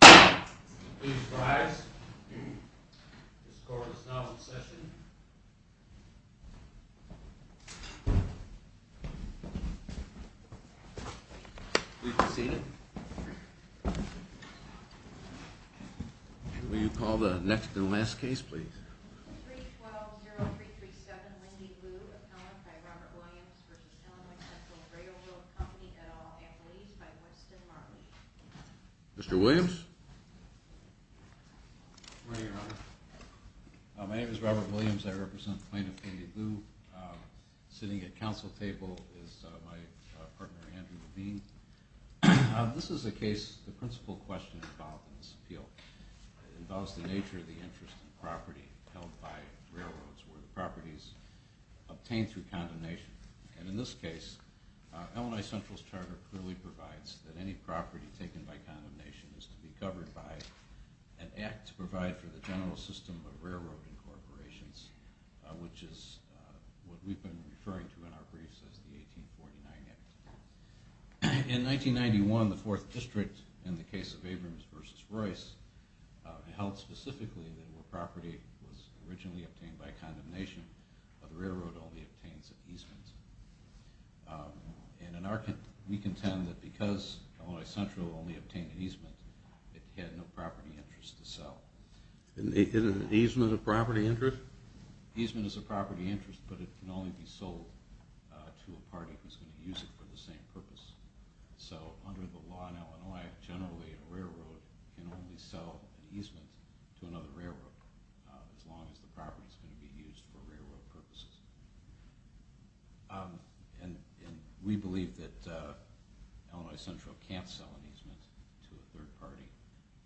Please rise. This court is now in session. Please be seated. Will you call the next and last case, please? 312-0337, Lindy Liu, appellant by Robert Williams v. Illinois Central Railroad Company, et al., at least, by Winston Marley. Mr. Williams? Good morning, Your Honor. My name is Robert Williams. I represent the plaintiff, Lindy Liu. Sitting at counsel table is my partner, Andrew Levine. This is a case, the principal question involved in this appeal. It involves the nature of the interest in property held by railroads, where the property is obtained through condemnation. And in this case, Illinois Central's charter clearly provides that any property taken by condemnation is to be covered by an act to provide for the general system of railroad incorporations, which is what we've been referring to in our briefs as the 1849 Act. In 1991, the 4th District, in the case of Abrams v. Royce, held specifically that the property was originally obtained by condemnation, but the railroad only obtains an easement. And we contend that because Illinois Central only obtained an easement, it had no property interest to sell. Isn't an easement a property interest? Sure. An easement is a property interest, but it can only be sold to a party that is going to use it for the same purpose. So under the law in Illinois, generally a railroad can only sell an easement to another railroad, as long as the property is going to be used for railroad purposes. And we believe that Illinois Central can't sell an easement to a third party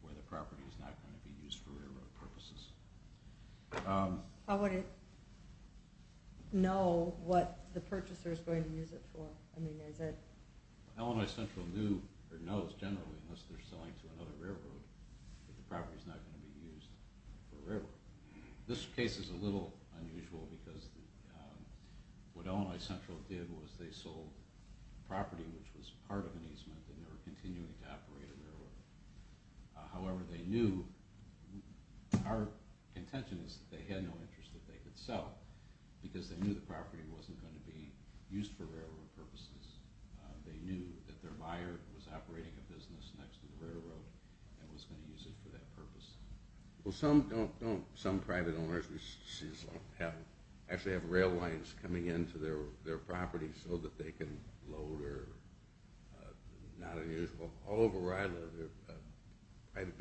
where the property is not going to be used for railroad purposes. How would it know what the purchaser is going to use it for? Illinois Central knows, generally, unless they're selling to another railroad, that the property is not going to be used for a railroad. This case is a little unusual because what Illinois Central did was they sold property which was part of an easement and they were continuing to operate a railroad. However, they knew, our contention is that they had no interest that they could sell because they knew the property wasn't going to be used for railroad purposes. They knew that their buyer was operating a business next to the railroad and was going to use it for that purpose. Well, some private owners actually have rail lines coming into their property so that they can load or not. There's a whole variety of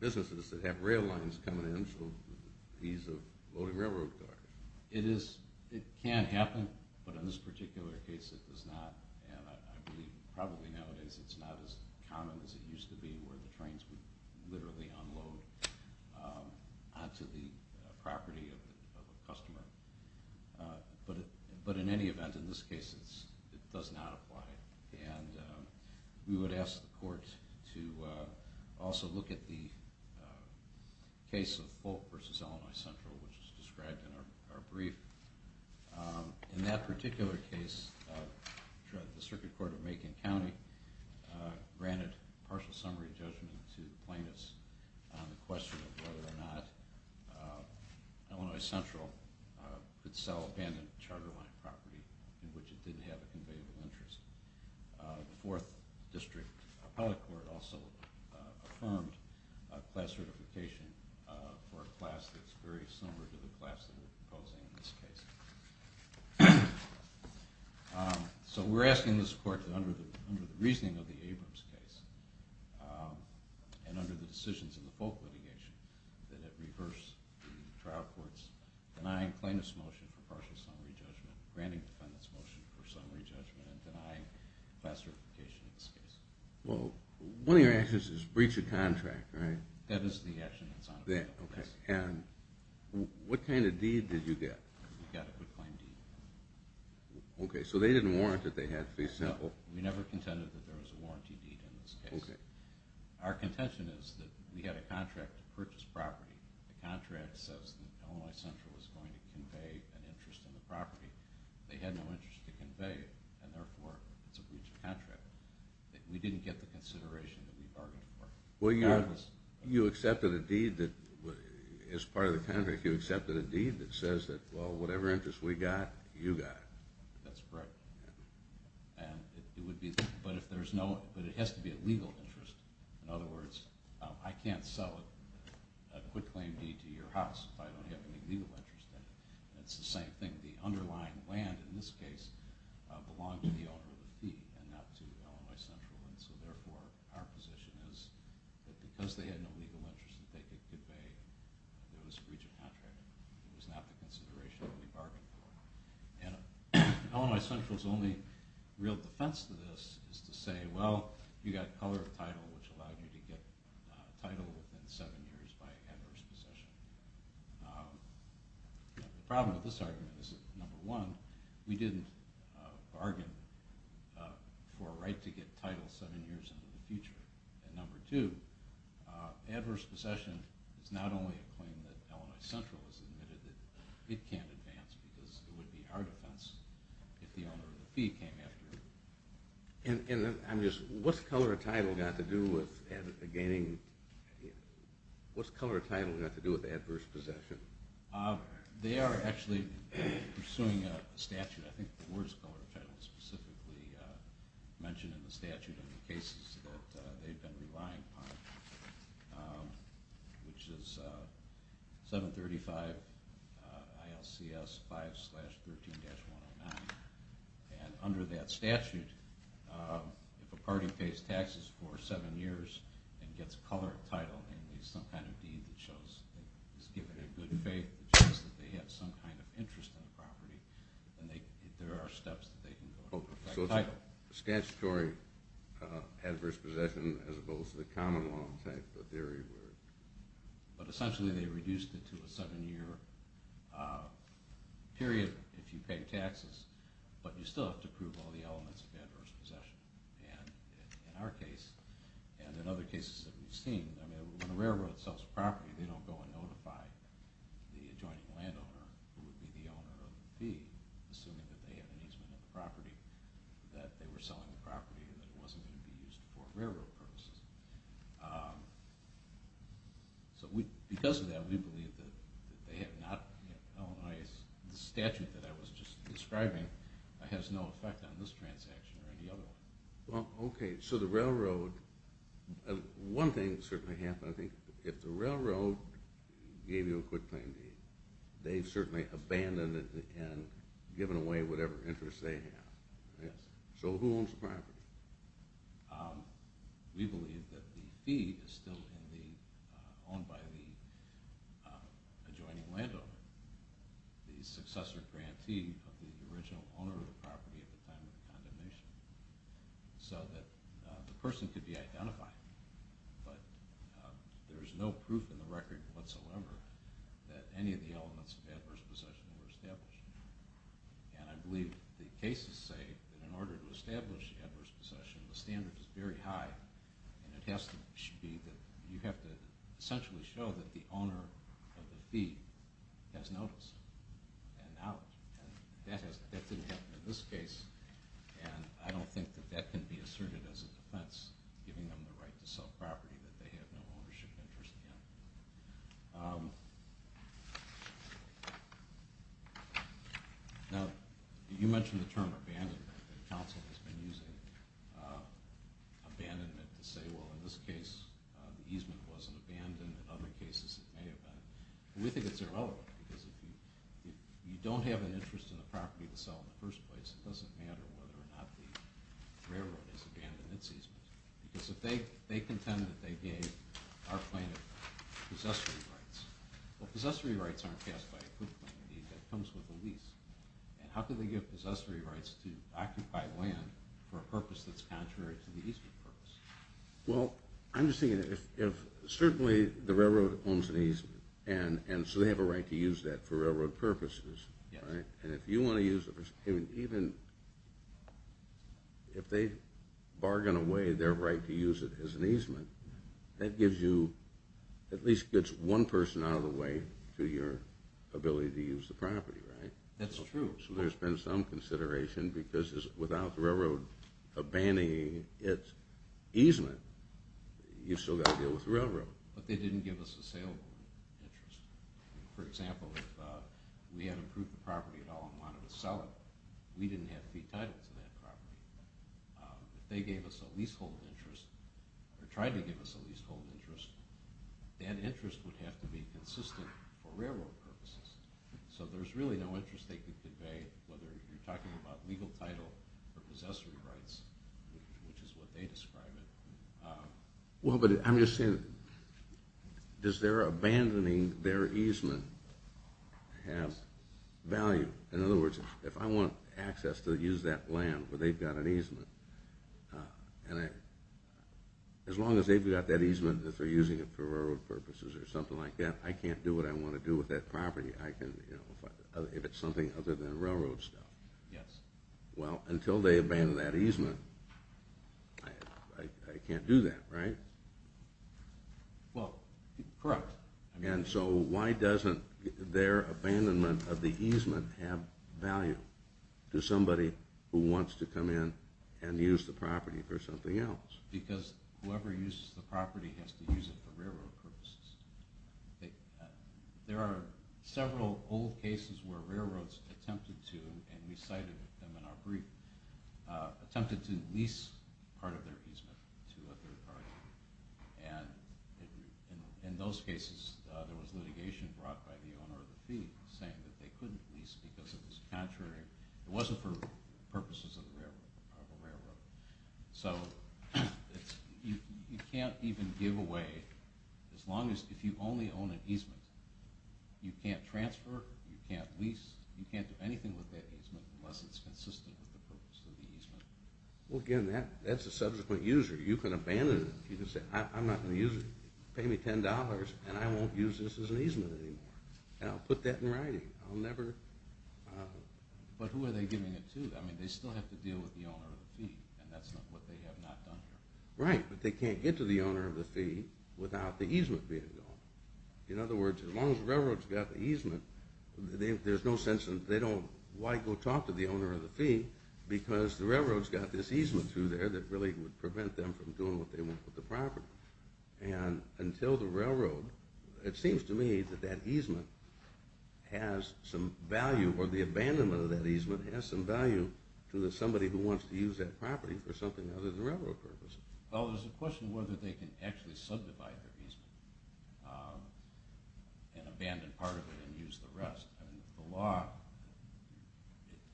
businesses that have rail lines coming in for the ease of loading railroad cars. It can happen, but in this particular case it does not. And I believe probably nowadays it's not as common as it used to be where the trains would literally unload onto the property of a customer. But in any event, in this case, it does not apply. And we would ask the court to also look at the case of Folk v. Illinois Central which is described in our brief. In that particular case, the circuit court of Macon County granted partial summary judgment to plaintiffs on the question of whether or not Illinois Central could sell abandoned charter line property in which it didn't have a conveyable interest. The fourth district appellate court also affirmed class certification for a class that's very similar to the class that we're proposing in this case. So we're asking this court that under the reasoning of the Abrams case and under the decisions of the Folk litigation that it reverse the trial court's denying plaintiffs' motion for partial summary judgment, granting defendants' motion for summary judgment, and denying class certification in this case. Well, one of your actions is breach a contract, right? That is the action that's on appeal. And what kind of deed did you get? We got a good claim deed. Okay, so they didn't warrant that they had to be sold. We never contended that there was a warranty deed in this case. Our contention is that we had a contract to purchase property. The contract says that Illinois Central is going to convey an interest in the property. They had no interest to convey it, and therefore it's a breach of contract. We didn't get the consideration that we bargained for. Well, you accepted a deed that, as part of the contract, you accepted a deed that says that whatever interest we got, you got it. That's correct. But it has to be a legal interest. In other words, I can't sell a quitclaim deed to your house if I don't have any legal interest in it. It's the same thing. The underlying land in this case belonged to the owner of the fee and not to Illinois Central, and so therefore our position is that because they had no legal interest that they could convey that it was a breach of contract. It was not the consideration that we bargained for. And Illinois Central's only real defense to this is to say, well, you got color of title, which allowed you to get title within seven years by adverse possession. The problem with this argument is that, number one, we didn't bargain for a right to get title seven years into the future. And number two, adverse possession is not only a claim that Illinois Central has admitted that it can't advance because it would be our defense if the owner of the fee came after it. And what's color of title got to do with adverse possession? They are actually pursuing a statute. I think the word is color of title specifically mentioned in the statute in the cases that they've been relying upon, which is 735 ILCS 5-13-109. And under that statute, if a party pays taxes for seven years and gets color of title, namely some kind of deed that shows that it was given in good faith, that shows that they had some kind of interest in the property, then there are steps that they can go ahead and get title. So it's a statutory adverse possession as opposed to the common law type of theory. But essentially they reduced it to a seven-year period if you pay taxes, but you still have to prove all the elements of adverse possession. And in our case, and in other cases that we've seen, when a railroad sells a property, they don't go and notify the adjoining landowner who would be the owner of the fee, assuming that they have an easement of the property, that they were selling the property and that it wasn't going to be used for railroad purposes. So because of that, we believe that they have not, the statute that I was just describing, has no effect on this transaction or any other one. Okay, so the railroad, one thing that certainly happened, I think, if the railroad gave you a quick claim deed, they've certainly abandoned it and given away whatever interest they have. Yes. So who owns the property? We believe that the fee is still owned by the adjoining landowner, the successor grantee of the original owner of the property at the time of the condemnation, so that the person could be identified. But there's no proof in the record whatsoever that any of the elements of adverse possession were established. And I believe the cases say that in order to establish adverse possession, the standard is very high, and it has to be that you have to essentially show that the owner of the fee has noticed and acknowledged. That didn't happen in this case, and I don't think that that can be asserted as a defense, giving them the right to sell property that they have no ownership interest in. Now, you mentioned the term abandonment. The council has been using abandonment to say, well, in this case, the easement wasn't abandoned. In other cases, it may have been. We think it's irrelevant, because if you don't have an interest in the property to sell in the first place, it doesn't matter whether or not the railroad has abandoned its easement. Because if they contend that they gave our plaintiff possessory rights, well, possessory rights aren't passed by a proof of claim. It comes with a lease. And how can they give possessory rights to occupy land for a purpose that's contrary to the easement purpose? Well, I'm just thinking that if certainly the railroad owns an easement, and so they have a right to use that for railroad purposes, and if you want to use it, even if they bargain away their right to use it as an easement, that gives you at least one person out of the way to your ability to use the property, right? That's true. So there's been some consideration, because without the railroad abandoning its easement, you've still got to deal with the railroad. But they didn't give us a sale interest. For example, if we had approved the property at all and wanted to sell it, we didn't have to be entitled to that property. If they gave us a leasehold interest, or tried to give us a leasehold interest, that interest would have to be consistent for railroad purposes. So there's really no interest they could convey, whether you're talking about legal title or possessory rights, which is what they describe it. Well, but I'm just saying, does their abandoning their easement have value? In other words, if I want access to use that land where they've got an easement, as long as they've got that easement and they're using it for railroad purposes or something like that, I can't do what I want to do with that property if it's something other than railroad stuff. Yes. Well, until they abandon that easement, I can't do that, right? Well, correct. And so why doesn't their abandonment of the easement have value to somebody who wants to come in and use the property for something else? Because whoever uses the property has to use it for railroad purposes. There are several old cases where railroads attempted to, and we cited them in our brief, attempted to lease part of their easement to a third party. And in those cases, there was litigation brought by the owner of the fee saying that they couldn't lease because it was contrary. It wasn't for purposes of the railroad. So you can't even give away, as long as you only own an easement, you can't transfer, you can't lease, you can't do anything with that easement unless it's consistent with the purpose of the easement. Well, again, that's a subsequent user. You can abandon it. You can say, I'm not going to use it. Pay me $10 and I won't use this as an easement anymore. And I'll put that in writing. I'll never... But who are they giving it to? I mean, they still have to deal with the owner of the fee, and that's what they have not done here. Right, but they can't get to the owner of the fee without the easement being gone. In other words, as long as the railroad's got the easement, there's no sense in why go talk to the owner of the fee because the railroad's got this easement through there that really would prevent them from doing what they want with the property. And until the railroad, it seems to me that that easement has some value, or the abandonment of that easement has some value to somebody who wants to use that property for something other than railroad purposes. Well, there's a question whether they can actually subdivide their easement and abandon part of it and use the rest. The law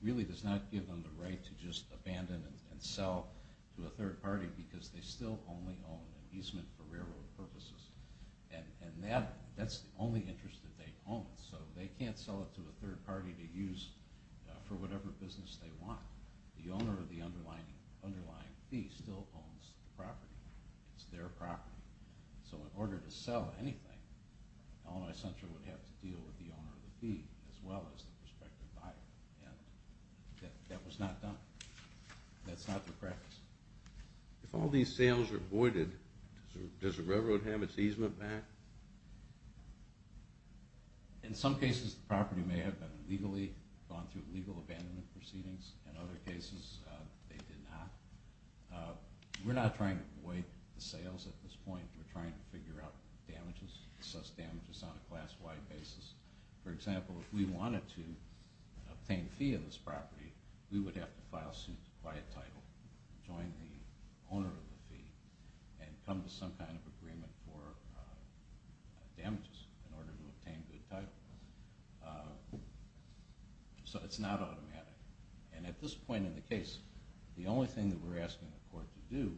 really does not give them the right to just abandon it and sell to a third party because they still only own an easement for railroad purposes. And that's the only interest that they own. So they can't sell it to a third party to use for whatever business they want. The owner of the underlying fee still owns the property. It's their property. So in order to sell anything, Illinois Central would have to deal with the owner of the fee as well as the prospective buyer. And that was not done. That's not the practice. If all these sales are voided, does the railroad have its easement back? In some cases, the property may have been legally gone through legal abandonment proceedings. In other cases, they did not. We're not trying to void the sales at this point. We're trying to figure out damages, assess damages on a class-wide basis. For example, if we wanted to obtain a fee on this property, we would have to file suit by a title, join the owner of the fee, and come to some kind of agreement for damages in order to obtain good title. So it's not automatic. And at this point in the case, the only thing that we're asking the court to do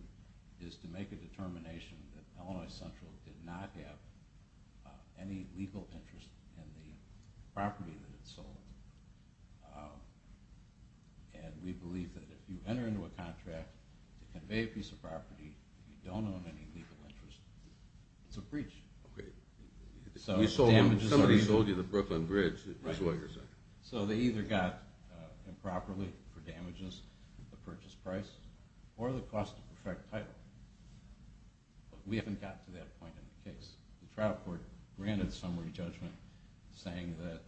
is to make a determination that Illinois Central did not have any legal interest in the property that it sold. And we believe that if you enter into a contract to convey a piece of property and you don't own any legal interest, it's a breach. Somebody sold you the Brooklyn Bridge. So they either got improperly for damages, the purchase price, or the cost to protect title. But we haven't gotten to that point in the case. The trial court granted summary judgment saying that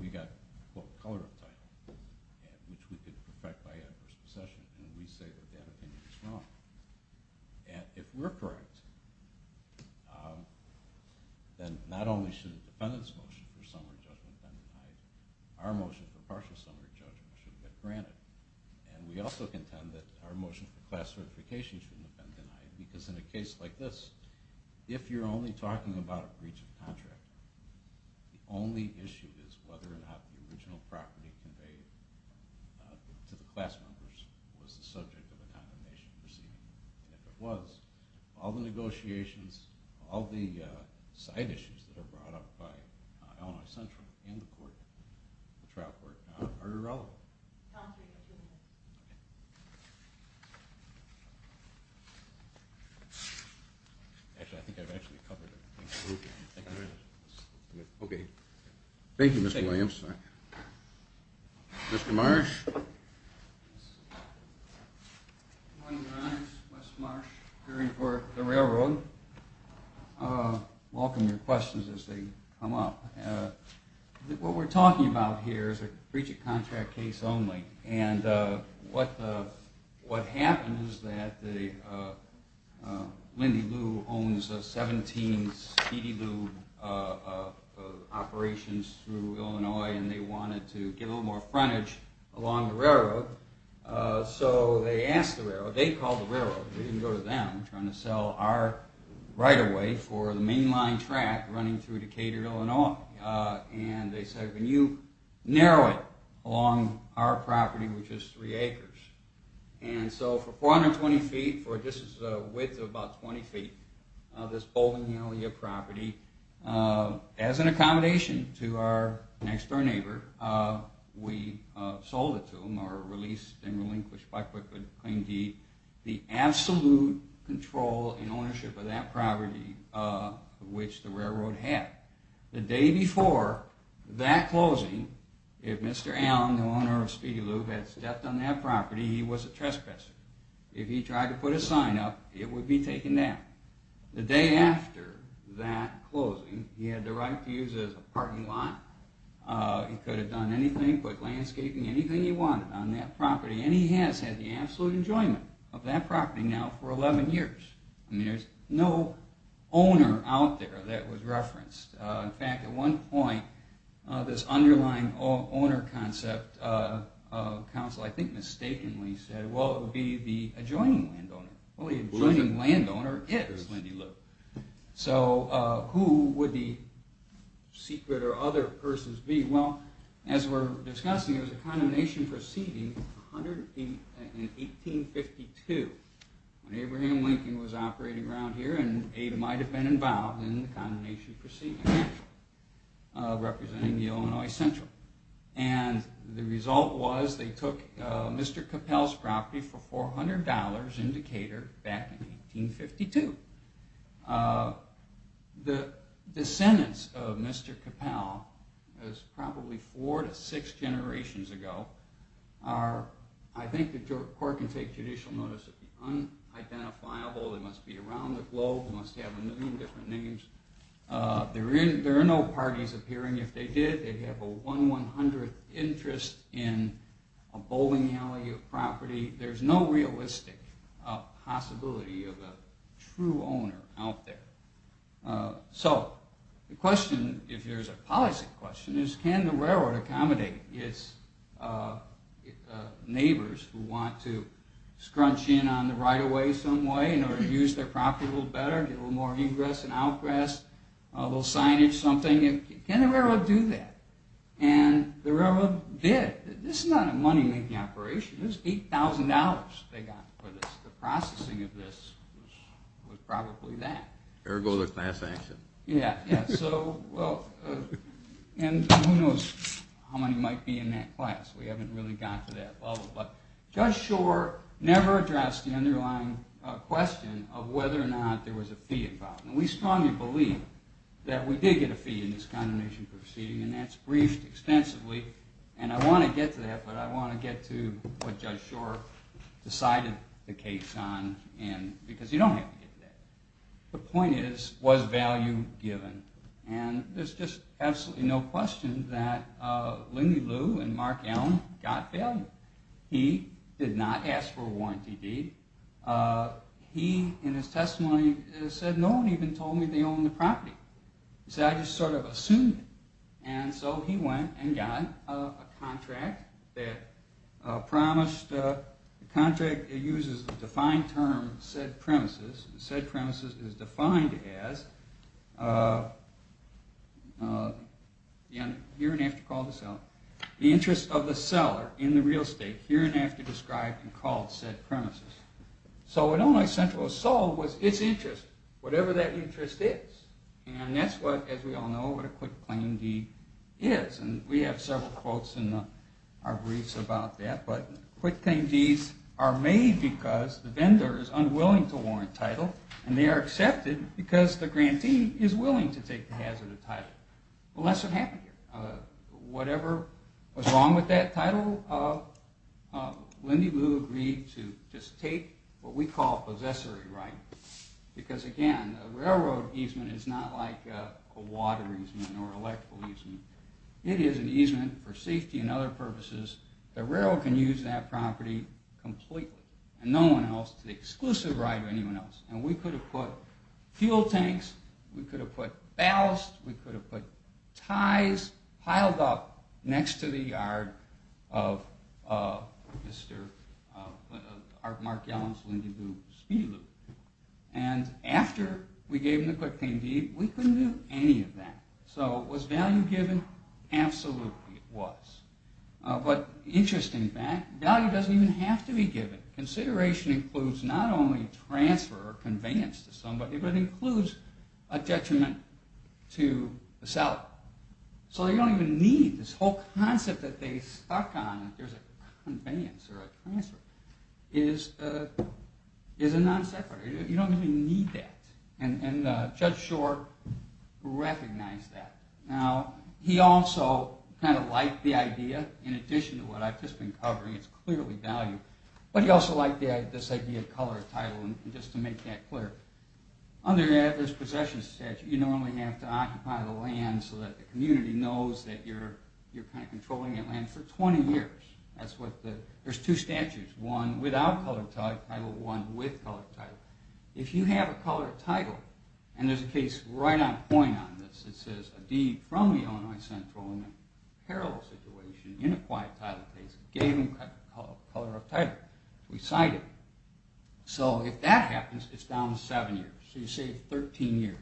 we got, quote, color of title, which we could perfect by adverse possession. And we say that that opinion is wrong. And if we're correct, then not only should a defendant's motion for summary judgment have been denied, our motion for partial summary judgment should have been granted. And we also contend that our motion for class certification shouldn't have been denied, because in a case like this, if you're only talking about a breach of contract, the only issue is whether or not the original property conveyed to the class members was the subject of a condemnation proceeding. And if it was, all the negotiations, all the side issues that are brought up by Illinois Central and the trial court are irrelevant. Tom, you have two minutes. Actually, I think I've actually covered it. Okay. Thank you, Mr. Williams. Mr. Marsh. Good morning, Your Honors. Wes Marsh, hearing for the railroad. Welcome your questions as they come up. What we're talking about here is a breach of contract case only. And what happened is that Lindy Lou owns 17 Speedy Lou operations through Illinois, and they wanted to give them more frontage along the railroad, so they asked the railroad, they called the railroad, they didn't go to them, trying to sell our right-of-way for the mainline track running through Decatur, Illinois. And they said, can you narrow it along our property, which is three acres? And so for 420 feet, this is a width of about 20 feet, this property, as an accommodation to our next-door neighbor, we sold it to them, or released and relinquished by Queen D, the absolute control and ownership of that property, which the railroad had. The day before that closing, if Mr. Allen, the owner of Speedy Lou, had stepped on that property, he was a trespasser. If he tried to put a sign up, it would be taken down. The day after that closing, he had the right to use it as a parking lot. He could have done anything, landscaping, anything he wanted on that property, and he has had the absolute enjoyment of that property now for 11 years. There's no owner out there that was referenced. In fact, at one point, this underlying owner concept, council I think mistakenly said, well, it would be the adjoining landowner. Well, the adjoining landowner is Lindy Lou. So who would the secret or other persons be? Well, as we're discussing, it was a condemnation proceeding in 1852, when Abraham Lincoln was operating around here, and Ada might have been involved in the condemnation proceeding, representing the Illinois Central. And the result was they took Mr. Capel's property for $400 in Decatur back in 1852. The descendants of Mr. Capel, it was probably four to six generations ago, I think the court can take judicial notice of the unidentifiable, they must be around the globe, must have a million different names. There are no parties appearing. If they did, they'd have a one-one-hundredth interest in a bowling alley of property. There's no realistic possibility of a true owner out there. So the question, if there's a policy question, is can the railroad accommodate its neighbors who want to scrunch in on the right of way some way in order to use their property a little better, get a little more ingress and outgress, a little signage, something. Can the railroad do that? And the railroad did. This is not a money-making operation. This is $8,000 they got for this. The processing of this was probably that. Ergo the class action. Yeah. And who knows how many might be in that class. We haven't really gotten to that level. But Judge Shore never addressed the underlying question of whether or not there was a fee involved. And we strongly believe that we did get a fee in this condemnation proceeding, and that's briefed extensively. And I want to get to that, but I want to get to what Judge Shore decided the case on, because you don't have to get to that. The point is, was value given? And there's just absolutely no question that Lindy Liu and Mark Allen got value. He did not ask for a warranty deed. He, in his testimony, said, no one even told me they owned the property. He said, I just sort of assumed it. And so he went and got a contract that promised... The contract uses the defined term, said premises. Said premises is defined as... Here and after call to sell. The interest of the seller in the real estate here and after described and called said premises. So what Illinois Central saw was its interest, whatever that interest is. And that's what, as we all know, what a quick claim deed is. And we have several quotes in our briefs about that, but quick claim deeds are made because the vendor is unwilling to warrant title, and they are accepted because the grantee is willing to take the hazard of title. Well, that's what happened here. Whatever was wrong with that title, Lindy Liu agreed to just take what we call possessory right. Because again, a railroad easement is not like a water easement or electrical easement. It is an easement for safety and other purposes. The railroad can use that property completely and no one else to the exclusive right of anyone else. And we could have put fuel tanks, we could have put ballasts, we could have put ties piled up next to the yard of Mr. Mark Yellen's Lindy Liu speed loop. And after we gave him the quick claim deed, we couldn't do any of that. So was value given? Absolutely it was. But interesting fact, value doesn't even have to be given. Consideration includes not only transfer or conveyance to somebody, but it includes a detriment to the seller. So they don't even need this whole concept that they stuck on, there's a conveyance or a transfer, is a non-separator. You don't even need that. And Judge Shore recognized that. Now, he also kind of liked the idea in addition to what I've just been covering. It's clearly value. But he also liked this idea of color of title just to make that clear. Under this possession statute, you normally have to occupy the land so that the community knows that you're kind of controlling that land for 20 years. There's two statutes, one without color of title, one with color of title. If you have a color of title, and there's a case right on point on this, it says a deed from the Illinois Central in a parallel situation, in a quiet title case, gave them color of title. We cite it. So if that happens, it's down to seven years. So you save 13 years.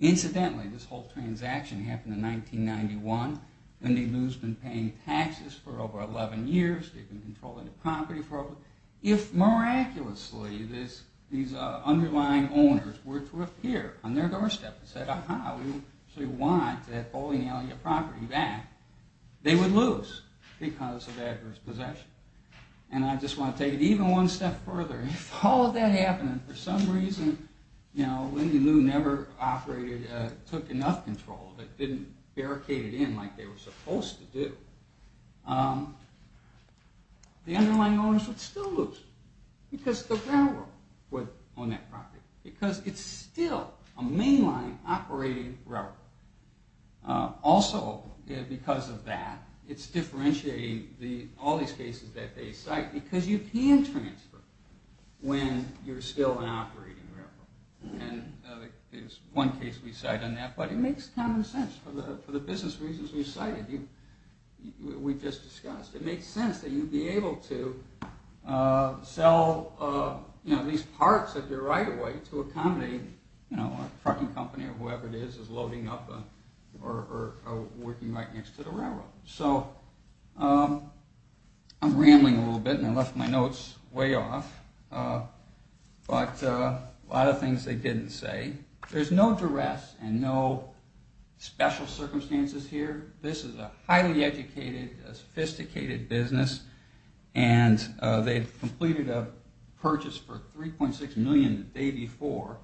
Incidentally, this whole transaction happened in 1991, and they've been paying taxes for over 11 years, they've been controlling the property. If, miraculously, these underlying owners were to appear on their doorstep and say, aha, we actually want that fully inalienable property back, they would lose because of adverse possession. And I just want to take it even one step further. If all of that happened, and for some reason, Lindy Lou never took enough control that didn't barricade it in like they were supposed to do, the underlying owners would still lose because the railroad would own that property because it's still a mainline operating railroad. Also, because of that, it's differentiating all these cases that they cite because you can transfer when you're still an operating railroad. And there's one case we cite on that, but it makes common sense for the business reasons we cited. We just discussed. It makes sense that you'd be able to sell these parts of your right-of-way to accommodate a trucking company or whoever it is that's loading up or working right next to the railroad. I'm rambling a little bit, and I left my notes way off, but a lot of things they didn't say. There's no duress and no special circumstances here. This is a highly educated, sophisticated business, and they completed a purchase for $3.6 million the day before.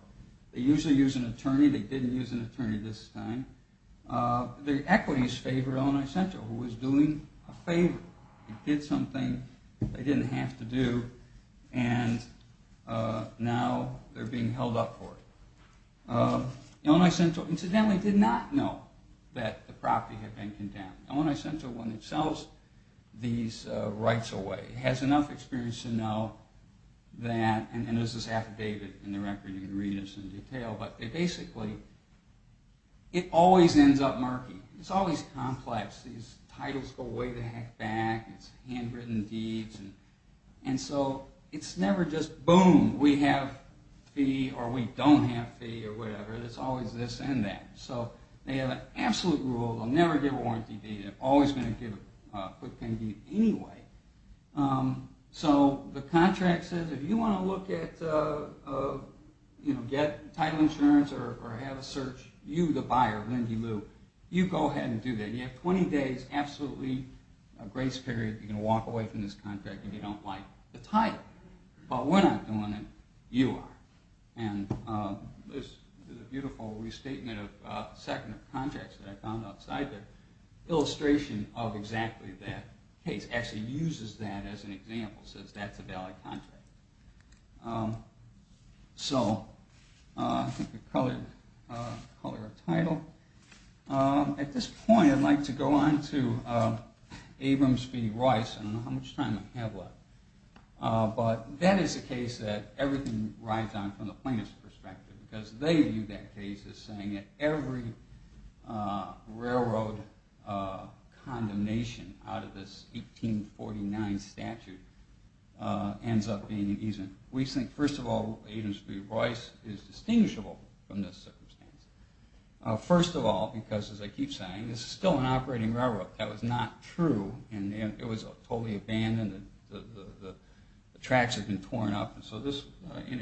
They usually use an attorney. They didn't use an attorney this time. Their equities favored Illinois Central, who was doing a favor. It did something they didn't have to do, and now they're being held up for it. Illinois Central, incidentally, did not know that the property had been condemned. Illinois Central, when it sells these rights away, has enough experience to know that, and this is affidavit in the record, and you can read this in detail, but basically, it always ends up murky. It's always complex. These titles go way the heck back. It's handwritten deeds. It's never just, boom, we have fee or we don't have fee or whatever. It's always this and that. They have an absolute rule. They'll never give a warranty deed. They're always going to give a quick payment deed anyway. The contract says, if you want to look at get title insurance or have a search, you, the buyer, you go ahead and do that. You have 20 days, absolutely grace period, you can walk away from this contract if you don't like the title, but we're not doing it, you are. There's a beautiful restatement of contracts that I found outside the illustration of exactly that case. It actually uses that as an example. It says that's a valid contract. So, color of title. At this point, I'd like to go on to Abrams v. Royce. I don't know how much time I have left, but that is a case that everything rides on from the plaintiff's perspective because they view that case as saying that every railroad condemnation out of this 1849 statute ends up being an easement. We think, first of all, Abrams v. Royce is distinguishable from this circumstance. First of all, because as I keep saying, this is still an operating railroad. That was not true, and it was totally abandoned. The tracks had been torn up. In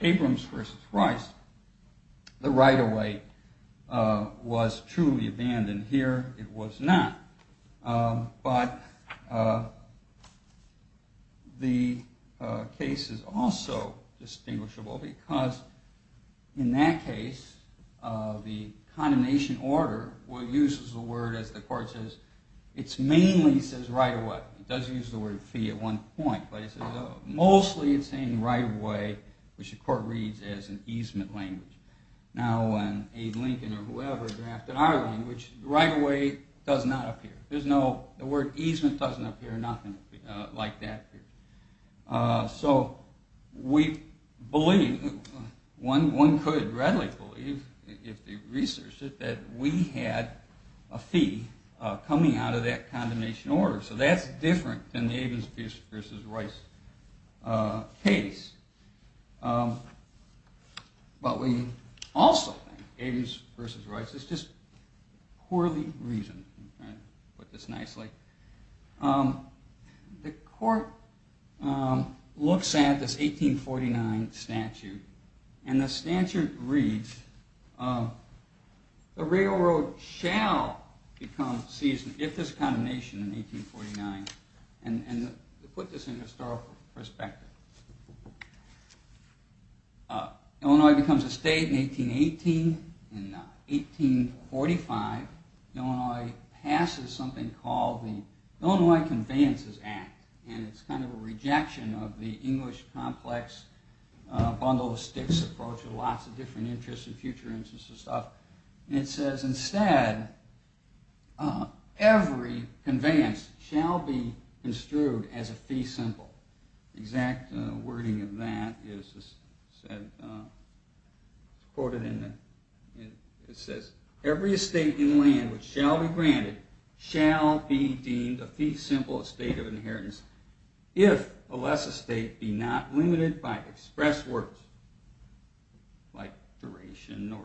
Abrams v. Royce, the right-of-way was truly abandoned. Here, it was not. But the case is also distinguishable because in that case, the condemnation order uses the word, as the court says, it mainly says right-of-way. It does use the word fee at one point, but it says mostly it's saying right-of-way, which the court reads as an easement language. Now, when Abe Lincoln or whoever drafted our language, right-of-way does not appear. There's no word, easement doesn't appear, nothing like that. So, we believe, one could readily believe, if they researched it, that we had a fee coming out of that condemnation order. So that's different than the Abrams v. Royce case. But we also think Abrams v. Royce is just poorly reasoned. I'll put this nicely. The court looks at this 1849 statute, and the statute reads the railroad shall become ceaseless if there's condemnation in 1849. I'll put this in historical perspective. Illinois becomes a state in 1818. In 1845, Illinois passes something called the Illinois Conveyances Act, and it's kind of a rejection of the English complex bundle of sticks approach with lots of different interests and future interests and stuff. It says instead, every conveyance shall be construed as a fee simple. The exact wording of that is quoted in it says, every estate in land which shall be granted shall be deemed a fee simple estate of inheritance if alas a state be not limited by express words like duration or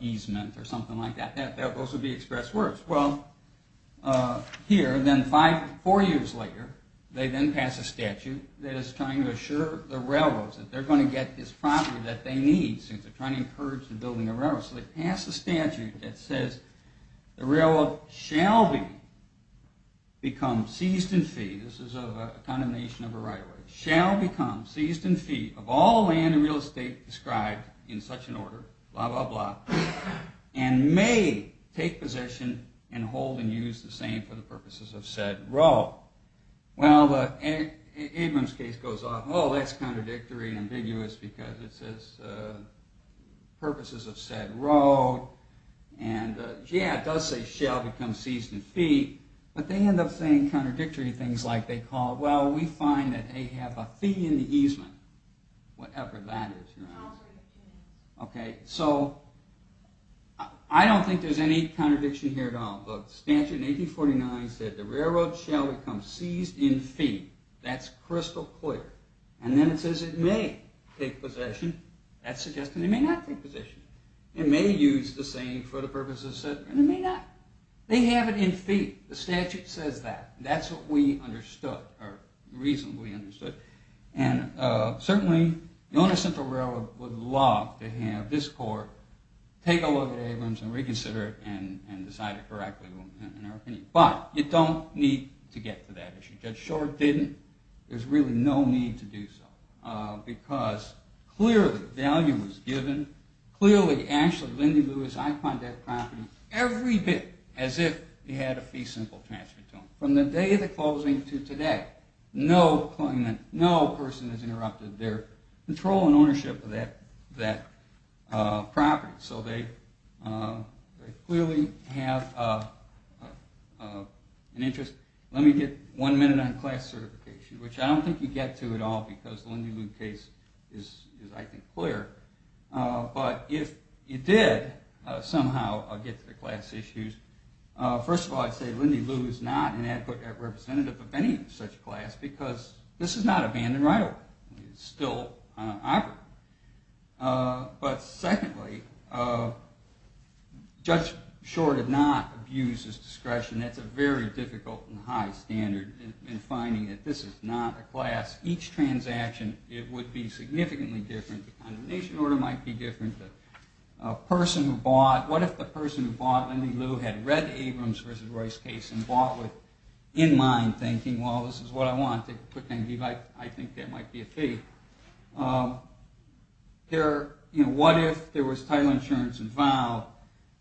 easement or something like that. Those would be express words. Well, here, then four years later, they then pass a statute that is trying to assure the railroads that they're going to get this property that they need since they're trying to encourage the building of railroads. So they pass a statute that says the railroad shall become seized in fee. This is a condemnation of a right of way. Shall become seized in fee of all land and real estate described in such an order blah blah blah and may take position and hold and use the same for the purposes of said road. Well, Abrams case goes on. Oh, that's contradictory and ambiguous because it says purposes of said road and yeah, it does say shall become seized in fee, but they end up saying contradictory things like they call, well, we find that they have a fee in the easement. Whatever that is. Okay, so I don't think there's any contradiction here at all. Statute in 1849 said the railroad shall become seized in fee. That's crystal clear. And then it says it may take possession. That's suggesting it may not take possession. It may use the same for the purposes of said road. It may not. They have it in fee. The statute says that. That's what we understood or reasonably understood. And certainly, the owner of Central Railroad would love to have this court take a look at Abrams and reconsider it and decide it correctly in our opinion. But, you don't need to get to that issue. Judge Short didn't. There's really no need to do so. Because clearly, value was given. Clearly, Ashley Lindy Lewis iconed that property every bit as if he had a fee simple transfer to him. From the day of the closing to today, no person has interrupted their control and ownership of that property. So, they clearly have an interest. Let me get one minute on class certification, which I don't think you get to at all because the Lindy Lewis case is, I think, clear. But, if you did somehow get to the class issues, first of all, I'd say Lindy Lewis is not an adequate representative of any such class because this is not abandoned right of way. It's still operative. But, secondly, Judge Short did not abuse his discretion. That's a very difficult and high standard in finding that this is not a class. Each transaction would be significantly different. Condemnation order might be different. What if the person who bought Lindy Lewis had read in mind, thinking, well, this is what I want. I think that might be a fee. What if there was title insurance involved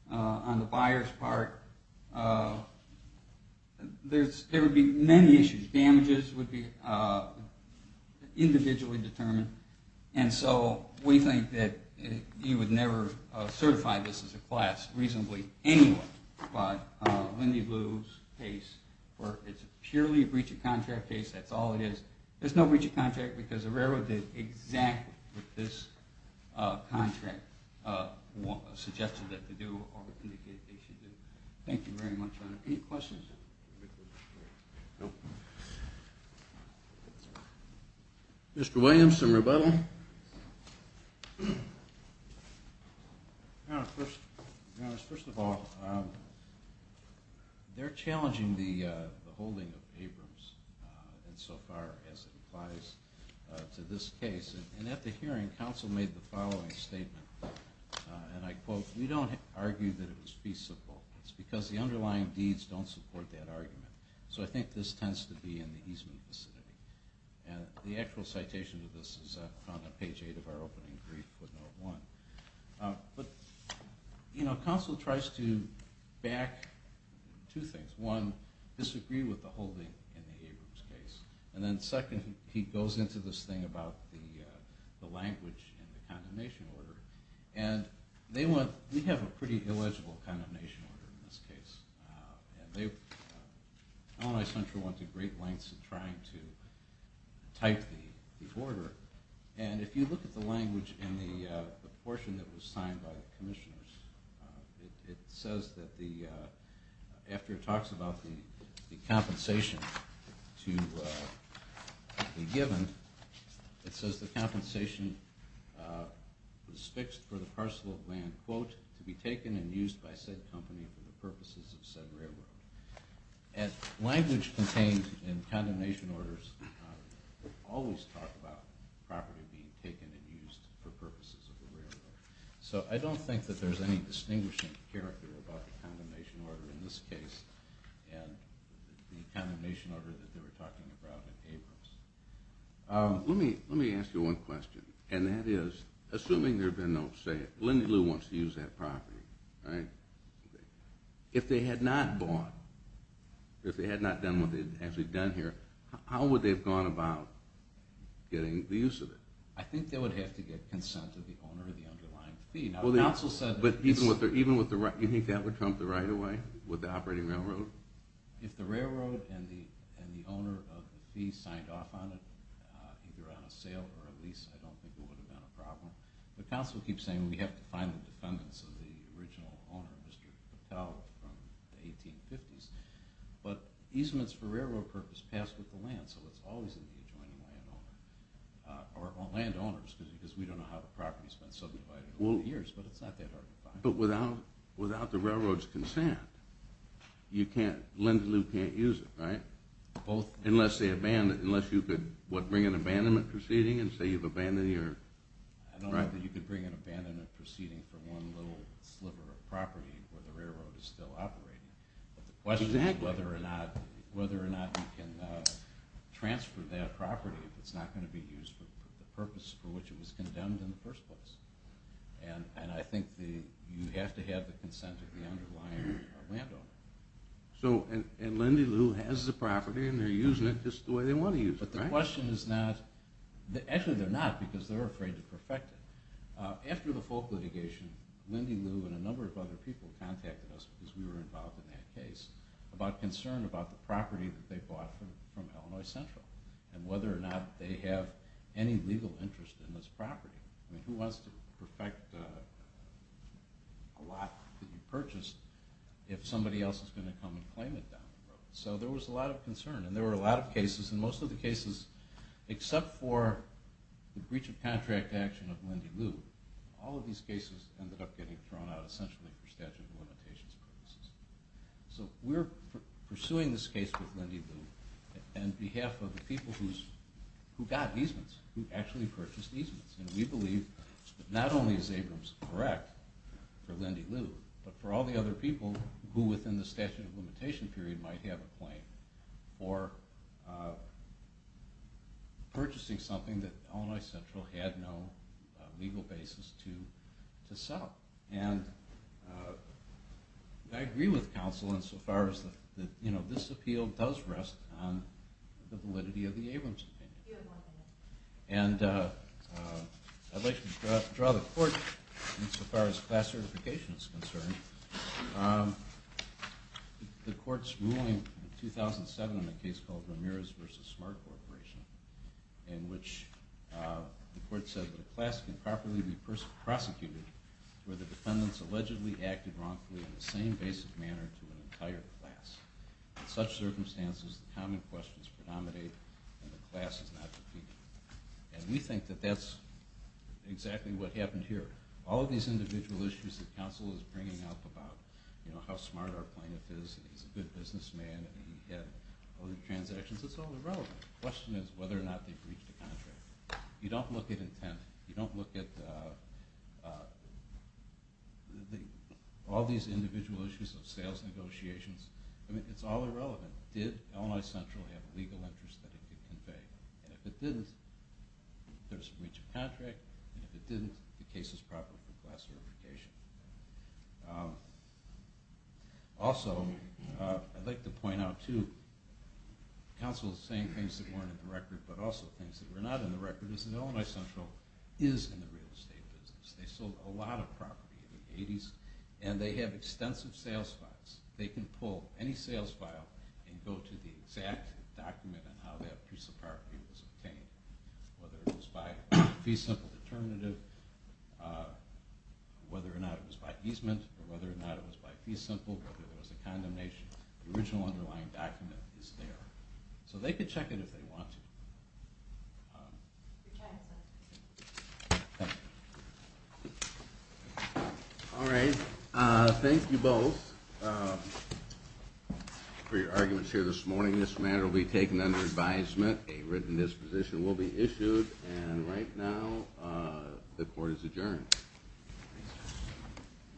on the buyer's part? There would be many issues. Damages would be individually determined. And so, we think that you would never certify this as a class reasonably anyway. But, Lindy Lewis case, it's purely a breach of contract case. That's all it is. There's no breach of contract because the railroad did exactly what this contract suggested that they do or indicated they should do. Thank you very much. Any questions? Mr. Williams, some rebuttal? First of all, they're challenging the holding of Abrams insofar as it applies to this case. And at the hearing, counsel made the following statement. And I quote, we don't argue that it was feasible. It's because the underlying deeds don't support that argument. So I think this tends to be in the easement vicinity. And the actual citation of this is found on page 8 of our opening brief with note 1. But, you know, counsel tries to back two things. One, disagree with the holding in the Abrams case. And then second, he goes into this thing about the language in the condemnation order. And they want, we have a pretty illegible condemnation order in this case. Illinois Central went to great lengths in trying to type the order. And if you look at the language in the portion that was signed by it says that the, after it talks about the compensation to be given, it says the compensation was fixed for the parcel of land, quote, to be taken and used by said company for the purposes of said railroad. And language contained in condemnation orders always talk about property being taken and used for purposes of the railroad. So I don't think that there's any distinguishing character about the condemnation order in this case. And the condemnation order that they were talking about in Abrams. Let me ask you one question. And that is, assuming there had been no sale, Lindy Lou wants to use that property, right? If they had not bought, if they had not done what they had actually done here, how would they have gone about getting the use of it? I think they would have to get consent of the owner of the underlying fee. But even with the, you think that would trump the right-of-way with the operating railroad? If the railroad and the owner of the fee signed off on it, either on a sale or a lease, I don't think it would have been a problem. The council keeps saying we have to find the defendants of the original owner, Mr. Patel, from the 1850s. But easements for railroad purpose passed with the land, so it's always in the hands of the landowner. Or landowners, because we don't know how the property has been subdivided over the years, but it's not that hard to find. But without the railroad's consent, you can't, Lindy Lou can't use it, right? Both. Unless they abandon, unless you could, what, bring an abandonment proceeding and say you've abandoned your... I don't know that you could bring an abandonment proceeding for one little sliver of property where the railroad is still operating. But the question is whether or not you can transfer that property if it's not going to be used for the purpose for which it was condemned in the first place. And I think you have to have the consent of the underlying landowner. So, and Lindy Lou has the property and they're using it just the way they want to use it, right? But the question is not... Actually, they're not, because they're afraid to perfect it. After the folk litigation, Lindy Lou and a number of other people contacted us, because we were involved in that case, about concern about the property that they bought from Illinois Central, and whether or not they have any legal interest in this property. I mean, who wants to perfect a lot that you purchased if somebody else is going to come and claim it down the road? So there was a lot of concern. And there were a lot of cases, and most of the cases, except for the breach of contract action of Lindy Lou, all of these cases ended up getting thrown out, essentially, for statute of limitations purposes. So we're pursuing this case with Lindy Lou on behalf of the people who got easements, who actually purchased easements. And we believe that not only is Abrams correct for Lindy Lou, but for all the other people who, within the statute of limitation period, might have a claim for purchasing something that Illinois Central had no legal basis to sell. And I agree with counsel insofar as this appeal does rest on the validity of the Abrams opinion. And I'd like to draw the court insofar as class certification is concerned. The court's ruling in 2007 on a case called Ramirez v. Smart Corporation, in which the court said that a class can properly be prosecuted where the defendants allegedly acted wrongfully in the same basic manner to an entire class. In such circumstances, the common questions predominate, and the class is not defeated. And we think that that's exactly what happened here. All of these individual issues that counsel is bringing up about how smart our plaintiff is, he's a good businessman, and he had other transactions, it's all irrelevant. The question is whether or not they've reached a contract. You don't look at intent. You don't look at all these individual issues of sales negotiations. It's all irrelevant. Did Illinois Central have a legal interest that it could convey? And if it didn't, there's a breach of contract, and if it didn't, the case is proper for class certification. Also, I'd like to point out, too, counsel is saying things that weren't in the record, but also things that are not in the record is that Illinois Central is in the real estate business. They sold a lot of property in the 80s, and they have extensive sales files. They can pull any sales file and go to the exact document on how that piece of property was obtained, whether it was by fee simple determinative, whether or not it was by easement, or whether or not it was by fee simple, whether there was a condemnation. The original underlying document is there. So they could check it if they want to. Thank you both for your arguments here this morning. This matter will be taken under advisement. A written disposition will be issued, and right now, the court is adjourned.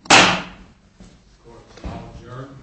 The court is now adjourned.